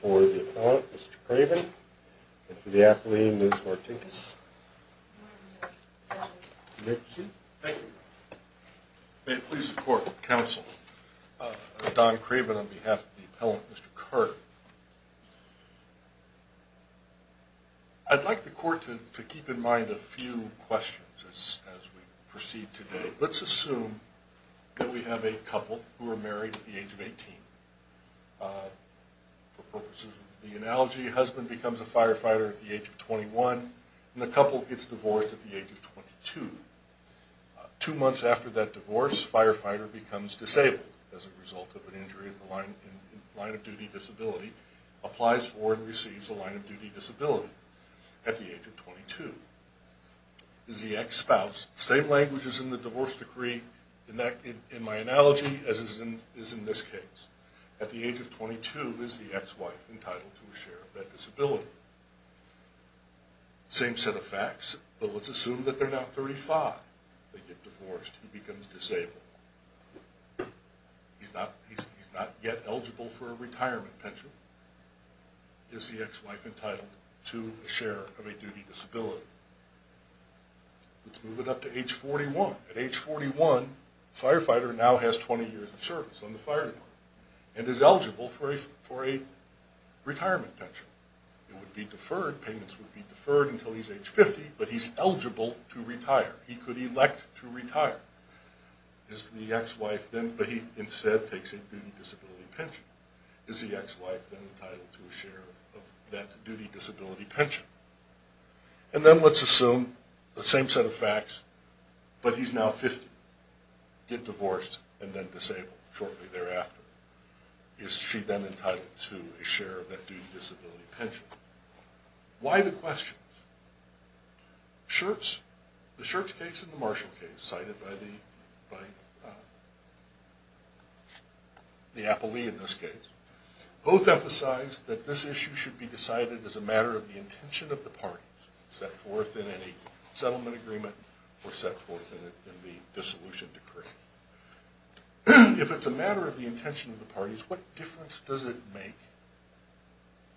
for the Appellant, Mr. Craven, and for the Appellee, Ms. Martinkus. May it please the Court, Counsel, I'm Don Craven on behalf of the Appellant, Mr. Carter. I'd like the Court to keep in mind a few questions as we proceed today. Let's assume that we have a couple who are married at the age of 18. For purposes of the analogy, a husband becomes a firefighter at the age of 21, and the couple gets divorced at the age of 22. Two months after that divorce, the firefighter becomes disabled as a result of an injury in the line of duty disability, applies for and receives the line of duty disability at the age of 22. Is the ex-spouse, same language as in the divorce decree in my analogy as is in this case, at the age of 22, is the ex-wife entitled to a share of that disability? Same set of facts, but let's assume that they're now 35. They get divorced, he becomes disabled. He's not yet eligible for a retirement pension. Is the ex-wife entitled to a share of a duty disability? Let's move it up to age 41. At age 41, the firefighter now has 20 years of service on the fire department, and is eligible for a retirement pension. It would be deferred, payments would be deferred until he's age 50, but he's eligible to retire. He could elect to retire. Is the ex-wife then, but he instead takes a duty disability pension. Is the ex-wife then entitled to a share of that duty disability pension? And then let's assume the same set of facts, but he's now 50. Get divorced and then disabled shortly thereafter. Is she then entitled to a share of that duty disability pension? Why the questions? Schertz, the Schertz case and the Marshall case cited by the appellee in this case, both emphasize that this issue should be decided as a matter of the intention of the parties, set forth in any settlement agreement or set forth in the dissolution decree. If it's a matter of the intention of the parties, what difference does it make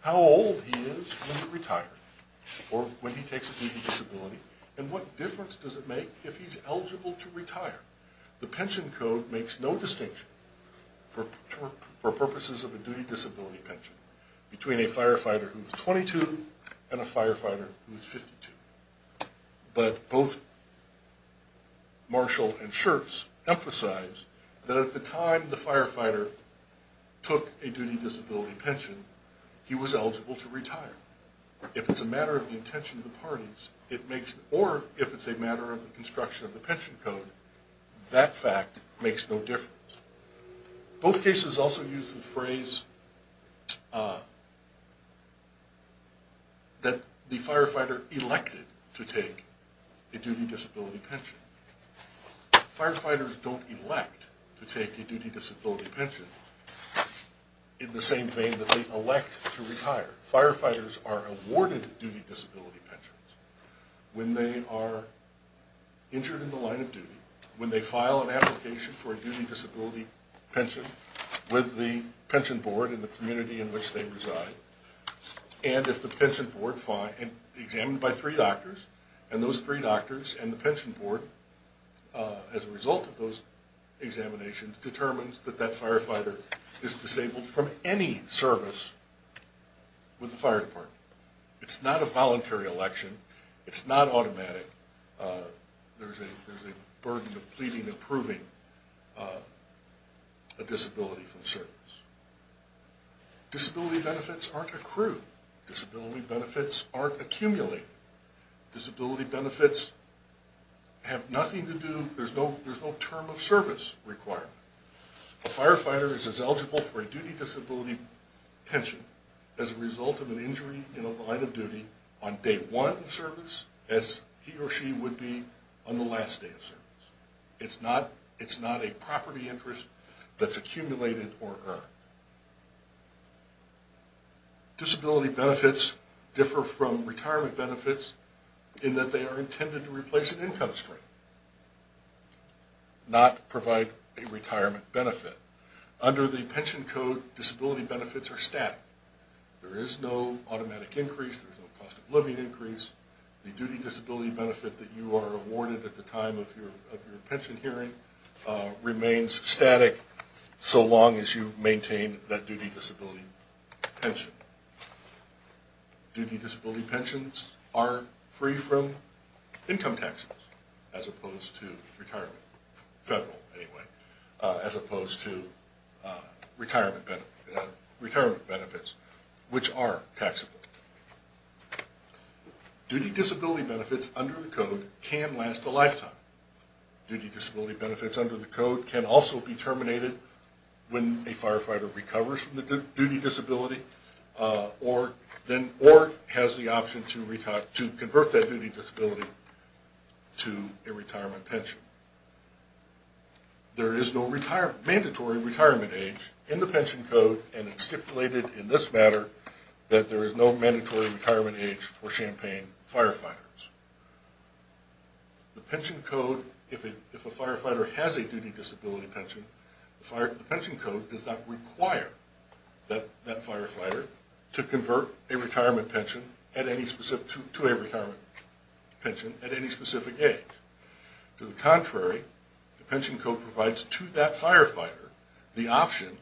how old he is when he retires, or when he takes a duty disability, and what difference does it make if he's eligible to retire? The pension code makes no distinction, for purposes of a duty disability pension, between a firefighter who is 22 and a firefighter who is 52. But both Marshall and Schertz emphasize that at the time the firefighter took a duty disability pension, he was eligible to retire. If it's a matter of the intention of the parties, or if it's a matter of the construction of the pension code, that fact makes no difference. Both cases also use the phrase that the firefighter elected to take a duty disability pension. Firefighters don't elect to take a duty disability pension in the same vein that they elect to retire. Firefighters are awarded duty disability pensions when they are injured in the line of duty, when they file an application for a duty disability pension with the pension board in the community in which they reside. And if the pension board, examined by three doctors, and those three doctors and the pension board, as a result of those examinations, determines that that firefighter is disabled from any service with the fire department. It's not a voluntary election. It's not automatic. There's a burden of pleading and proving a disability from service. Disability benefits aren't accrued. Disability benefits aren't accumulated. Disability benefits have nothing to do, there's no term of service requirement. A firefighter is as eligible for a duty disability pension as a result of an injury in a line of duty on day one of service, as he or she would be on the last day of service. It's not a property interest that's accumulated or earned. Disability benefits differ from retirement benefits in that they are intended to replace an income stream, not provide a retirement benefit. Under the pension code, disability benefits are static. There is no automatic increase, there's no cost of living increase. The duty disability benefit that you are awarded at the time of your pension hearing remains static, so long as you maintain that duty disability pension. Duty disability pensions are free from income taxes, as opposed to retirement, federal anyway, as opposed to retirement benefits, which are taxable. Duty disability benefits under the code can last a lifetime. Duty disability benefits under the code can also be terminated when a firefighter recovers from the duty disability or has the option to convert that duty disability to a retirement pension. There is no mandatory retirement age in the pension code, and it's stipulated in this matter that there is no mandatory retirement age for Champaign firefighters. The pension code, if a firefighter has a duty disability pension, the pension code does not require that firefighter to convert to a retirement pension at any specific age. To the contrary, the pension code provides to that firefighter the option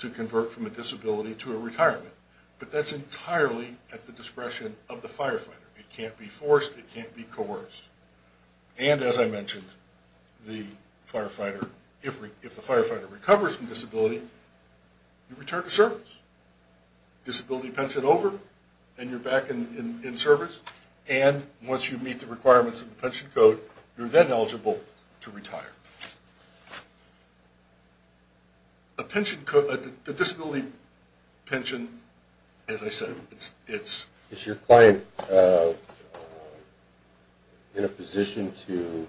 to convert from a disability to a retirement, but that's entirely at the discretion of the firefighter. It can't be forced. It can't be coerced. And as I mentioned, if the firefighter recovers from disability, you return to service. Disability pension over, and you're back in service, and once you meet the requirements of the pension code, you're then eligible to retire. A pension code, a disability pension, as I said, it's... Is your client in a position to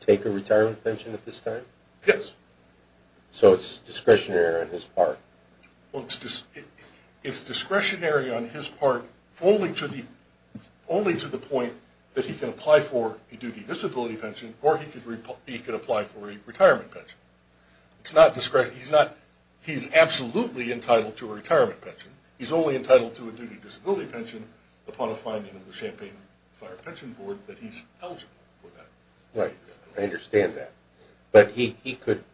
take a retirement pension at this time? Yes. So it's discretionary on his part? Well, it's discretionary on his part only to the point that he can apply for a duty disability pension or he could apply for a retirement pension. It's not discretionary. He's absolutely entitled to a retirement pension. He's only entitled to a duty disability pension upon a finding of the Champaign Fire Pension Board that he's eligible for that. Right. I understand that. But he could,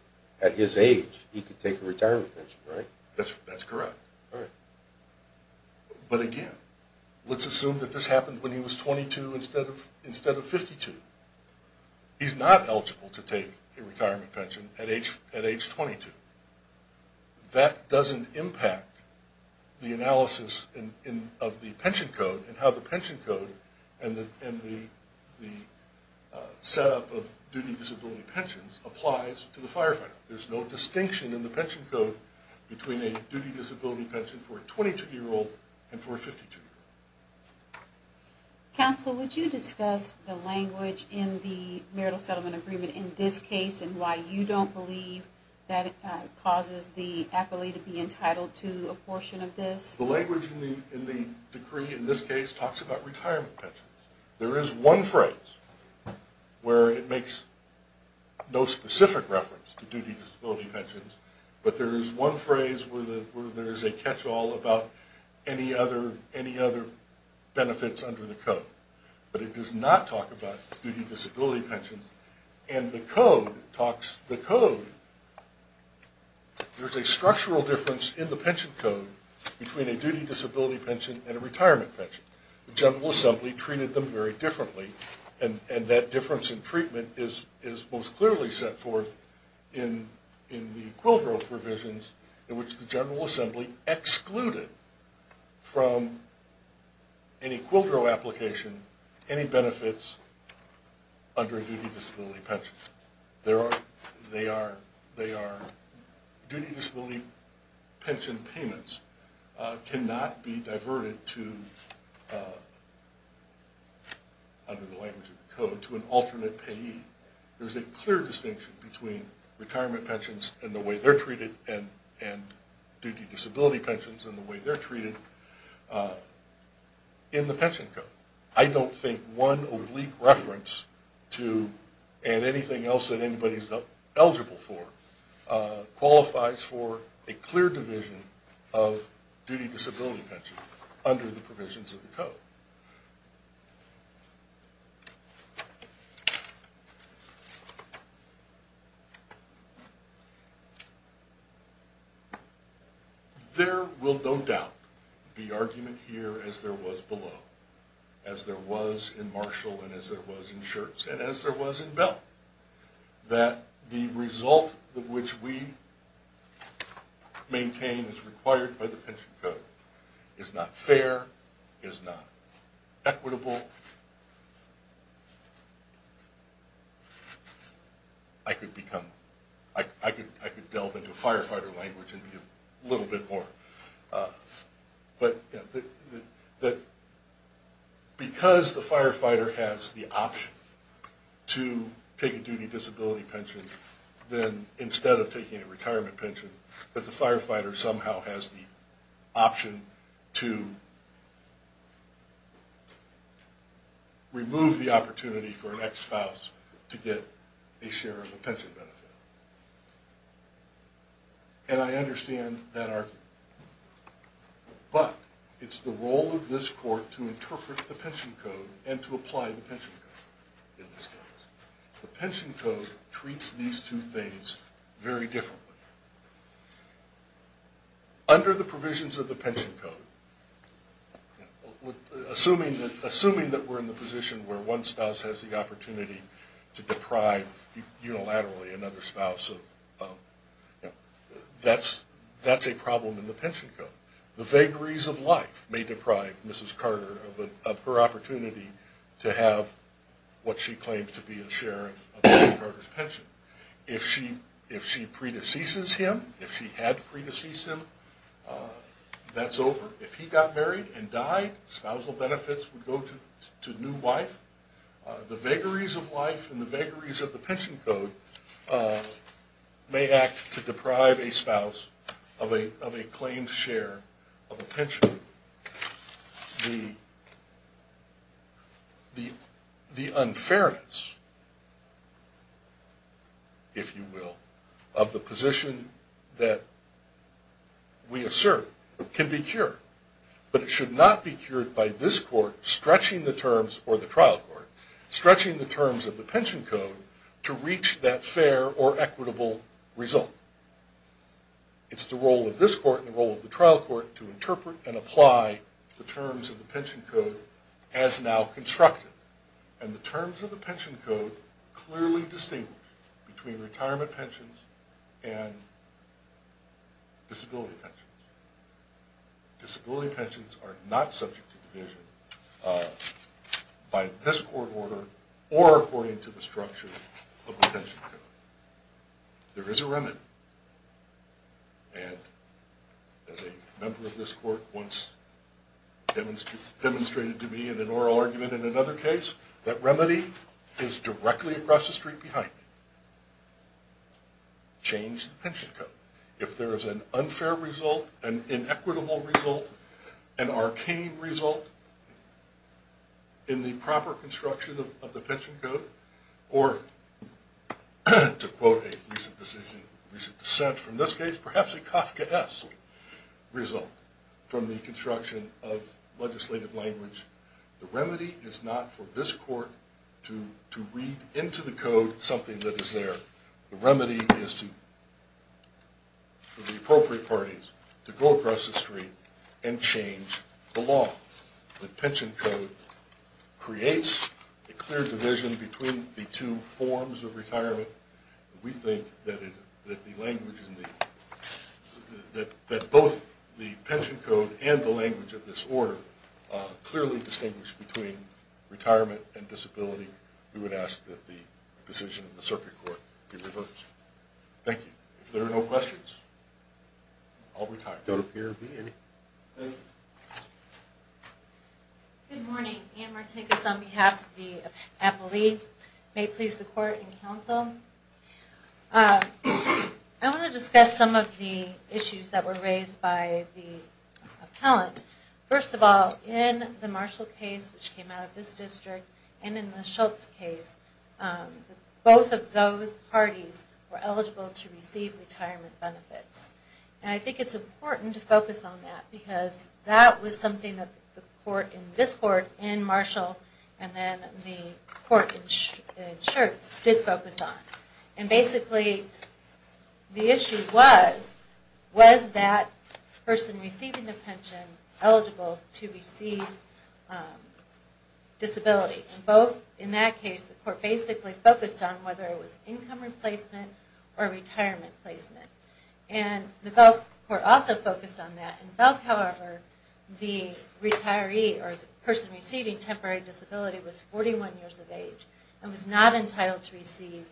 at his age, he could take a retirement pension, right? That's correct. All right. But again, let's assume that this happened when he was 22 instead of 52. He's not eligible to take a retirement pension at age 22. That doesn't impact the analysis of the pension code and how the pension code and the setup of duty disability pensions applies to the firefighter. There's no distinction in the pension code between a duty disability pension for a 22-year-old and for a 52-year-old. Counsel, would you discuss the language in the marital settlement agreement in this case and why you don't believe that it causes the appellee to be entitled to a portion of this? The language in the decree in this case talks about retirement pensions. There is one phrase where it makes no specific reference to duty disability pensions, but there is one phrase where there is a catch-all about any other benefits under the code. But it does not talk about duty disability pensions. And the code talks, the code, there's a structural difference in the pension code between a duty disability pension and a retirement pension. The General Assembly treated them very differently, and that difference in treatment is most clearly set forth in the Quildreau provisions in which the General Assembly excluded from any Quildreau application any benefits under a duty disability pension. Duty disability pension payments cannot be diverted to, under the language of the code, to an alternate payee. There's a clear distinction between retirement pensions and the way they're treated and duty disability pensions and the way they're treated in the pension code. I don't think one oblique reference to, and anything else that anybody's eligible for, qualifies for a clear division of duty disability pensions under the provisions of the code. There will no doubt be argument here, as there was below, as there was in Marshall and as there was in Schertz and as there was in Bell, that the result of which we maintain is required by the pension code is not fair, is not equitable. I could become, I could delve into firefighter language a little bit more. But because the firefighter has the option to take a duty disability pension than instead of taking a retirement pension, that the firefighter somehow has the option to remove the opportunity for an ex-spouse to get a share of the pension benefit. And I understand that argument. But it's the role of this court to interpret the pension code and to apply the pension code in this case. The pension code treats these two things very differently. Under the provisions of the pension code, assuming that we're in the position where one spouse has the opportunity to deprive unilaterally another spouse of, that's a problem in the pension code. The vagaries of life may deprive Mrs. Carter of her opportunity to have what she claims to be a share of Mrs. Carter's pension. If she predeceases him, if she had predeceased him, that's over. If he got married and died, spousal benefits would go to new wife. The vagaries of life and the vagaries of the pension code may act to deprive a spouse of a claimed share of a pension. The unfairness, if you will, of the position that we assert can be cured. But it should not be cured by this court stretching the terms, or the trial court, stretching the terms of the pension code to reach that fair or equitable result. It's the role of this court and the role of the trial court to interpret and apply the terms of the pension code as now constructed. And the terms of the pension code clearly distinguish between retirement pensions and disability pensions. Disability pensions are not subject to division by this court order or according to the structure of the pension code. There is a remedy. And as a member of this court once demonstrated to me in an oral argument in another case, that remedy is directly across the street behind me. Change the pension code. If there is an unfair result, an inequitable result, an arcane result in the proper construction of the pension code, or to quote a recent decision, recent dissent from this case, perhaps a Kafkaesque result from the construction of legislative language, the remedy is not for this court to read into the code something that is there. The remedy is for the appropriate parties to go across the street and change the law. The pension code creates a clear division between the two forms of retirement. We think that both the pension code and the language of this order clearly distinguish between retirement and disability. We would ask that the decision of the circuit court be reversed. Thank you. If there are no questions, I'll retire. Good morning. Ann Martinez on behalf of the appellee. May it please the court and counsel. I want to discuss some of the issues that were raised by the appellant. First of all, in the Marshall case, which came out of this district, and in the Schultz case, both of those parties were eligible to receive retirement benefits. And I think it's important to focus on that, because that was something that the court in this court, in Marshall, and then the court in Schultz, did focus on. And basically, the issue was, was that person receiving the pension eligible to receive disability? Both, in that case, the court basically focused on whether it was income replacement or retirement placement. And the Belk court also focused on that. In Belk, however, the retiree or the person receiving temporary disability was 41 years of age and was not entitled to receive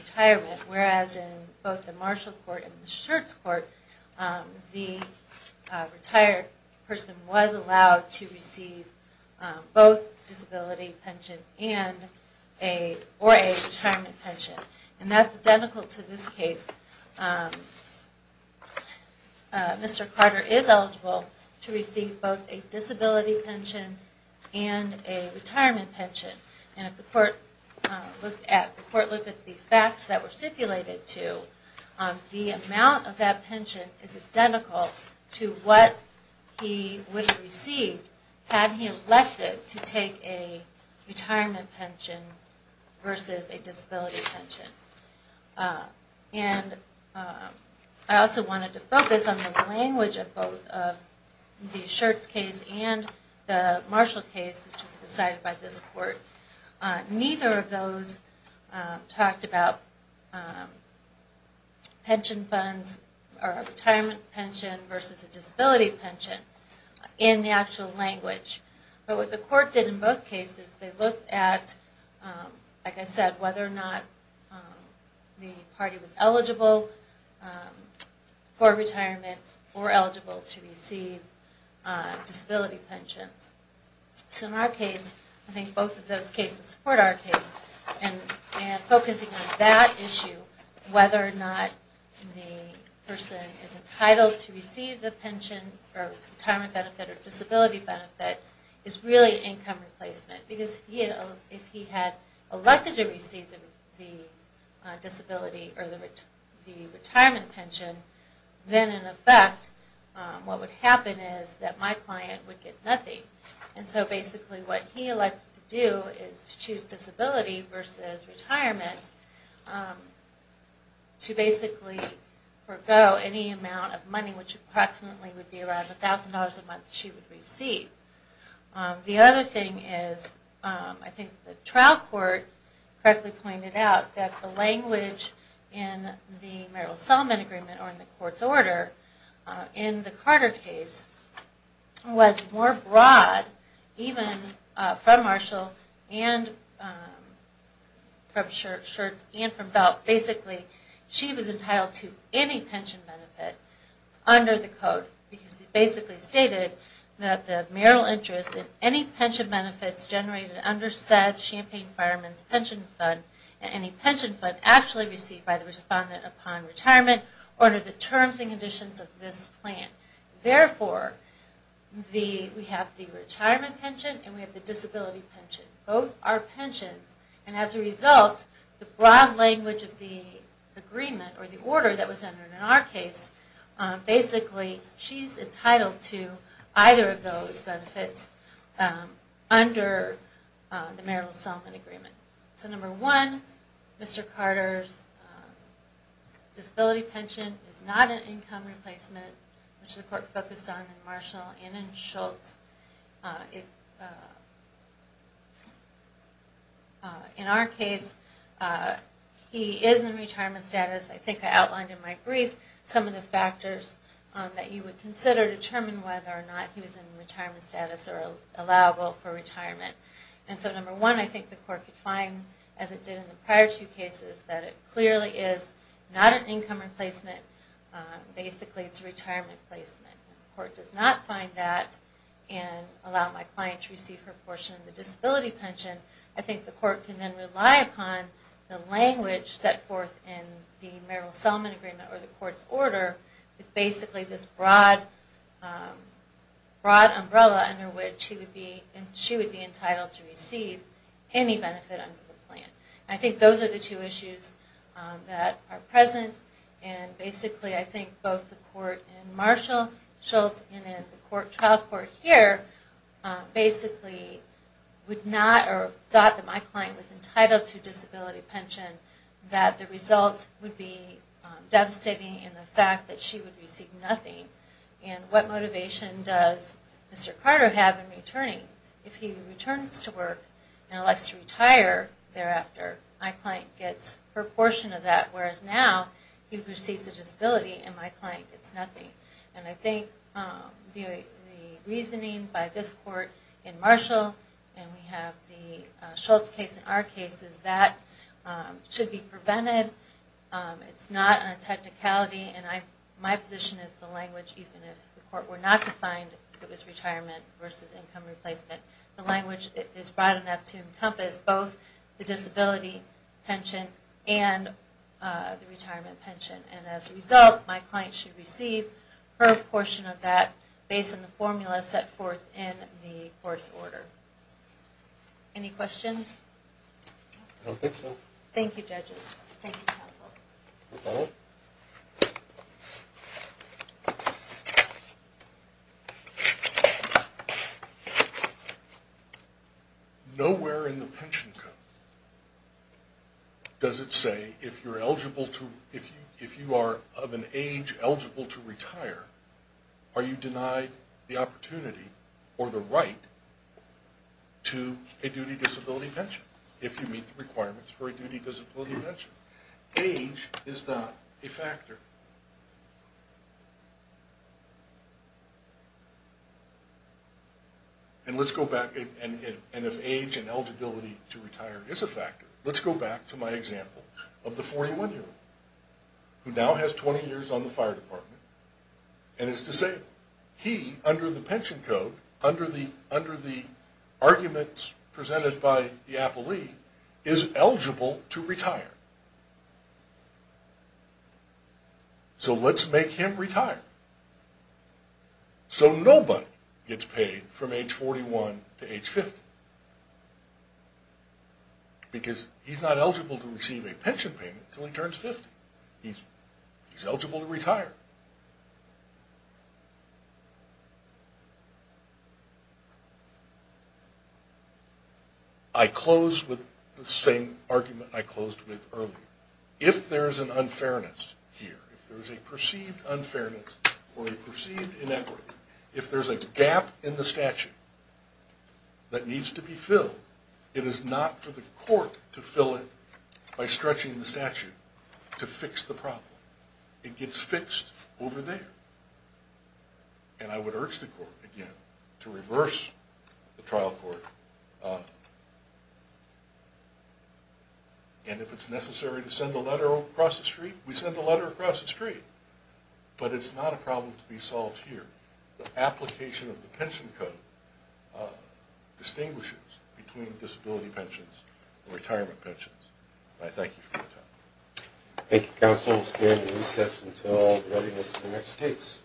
retirement, whereas in both the Marshall court and the Schultz court, the retired person was allowed to receive both disability pension and a, or a retirement pension. And that's identical to this case. Mr. Carter is eligible to receive both a disability pension and a retirement pension. And if the court looked at, the court looked at the facts that were stipulated to, the amount of that pension is identical to what he would have received had he elected to take a retirement pension versus a disability pension. And I also wanted to focus on the language of both the Schultz case and the Marshall case, which was decided by this court. Neither of those talked about pension funds or retirement pension versus a disability pension in the actual language. But what the court did in both cases, they looked at, like I said, whether or not the party was eligible for retirement or eligible to receive disability pensions. So in our case, I think both of those cases support our case, and focusing on that issue, whether or not the person is entitled to receive the pension or retirement benefit or disability benefit is really income replacement. Because if he had elected to receive the disability or the retirement pension, then in effect what would happen is that my client would get nothing. And so basically what he elected to do is to choose disability versus retirement to basically forego any amount of money, which approximately would be around $1,000 a month she would receive. The other thing is, I think the trial court correctly pointed out, that the language in the Merrill-Solomon agreement or in the court's order in the Carter case was more broad, even from Marshall and from Belt. Basically, she was entitled to any pension benefit under the code. Because it basically stated that the Merrill interest in any pension benefits generated under said Champaign Fireman's pension fund, and any pension fund actually received by the respondent upon retirement, under the terms and conditions of this plan. Therefore, we have the retirement pension and we have the disability pension. Both are pensions, and as a result, the broad language of the agreement or the order that was entered in our case, basically she's entitled to either of those benefits under the Merrill-Solomon agreement. So number one, Mr. Carter's disability pension is not an income replacement, which the court focused on in Marshall and in Schultz. In our case, he is in retirement status. I think I outlined in my brief some of the factors that you would consider to determine whether or not he was in retirement status or allowable for retirement. And so number one, I think the court could find, as it did in the prior two cases, that it clearly is not an income replacement. Basically, it's a retirement placement. If the court does not find that and allow my client to receive her portion of the disability pension, I think the court can then rely upon the language set forth in the Merrill-Solomon agreement or the court's order with basically this broad umbrella under which she would be entitled to receive any benefit under the plan. I think those are the two issues that are present. And basically, I think both the court in Marshall, Schultz, and in the trial court here, basically would not or thought that my client was entitled to a disability pension, that the result would be devastating in the fact that she would receive nothing. And what motivation does Mr. Carter have in returning? If he returns to work and elects to retire thereafter, my client gets her portion of that, whereas now he receives a disability and my client gets nothing. And I think the reasoning by this court in Marshall, and we have the Schultz case in our cases, that should be prevented. It's not a technicality and my position is the language, even if the court were not to find it was retirement versus income replacement, the language is broad enough to encompass both the disability pension and the retirement pension. And as a result, my client should receive her portion of that based on the formula set forth in the court's order. Any questions? I don't think so. Thank you, judges. Thank you, counsel. Nowhere in the pension code does it say if you are of an age eligible to retire, are you denied the opportunity or the right to a duty disability pension, if you meet the requirements for a duty disability pension. Age is not a factor. And if age and eligibility to retire is a factor, let's go back to my example of the 41-year-old, who now has 20 years on the fire department and is disabled. He, under the pension code, under the arguments presented by the appellee, is eligible to retire. So let's make him retire. So nobody gets paid from age 41 to age 50. Because he's not eligible to receive a pension payment until he turns 50. He's eligible to retire. I close with the same argument I closed with earlier. If there's an unfairness here, if there's a perceived unfairness or a perceived inequity, if there's a gap in the statute that needs to be filled, it is not for the court to fill it by stretching the statute to fix the problem. It gets fixed over there. And I would urge the court, again, to reverse the trial court. And if it's necessary to send a letter across the street, we send a letter across the street. But it's not a problem to be solved here. The application of the pension code distinguishes between disability pensions and retirement pensions. And I thank you for your time. Thank you, counsel. We'll stand and recess until readiness for the next case.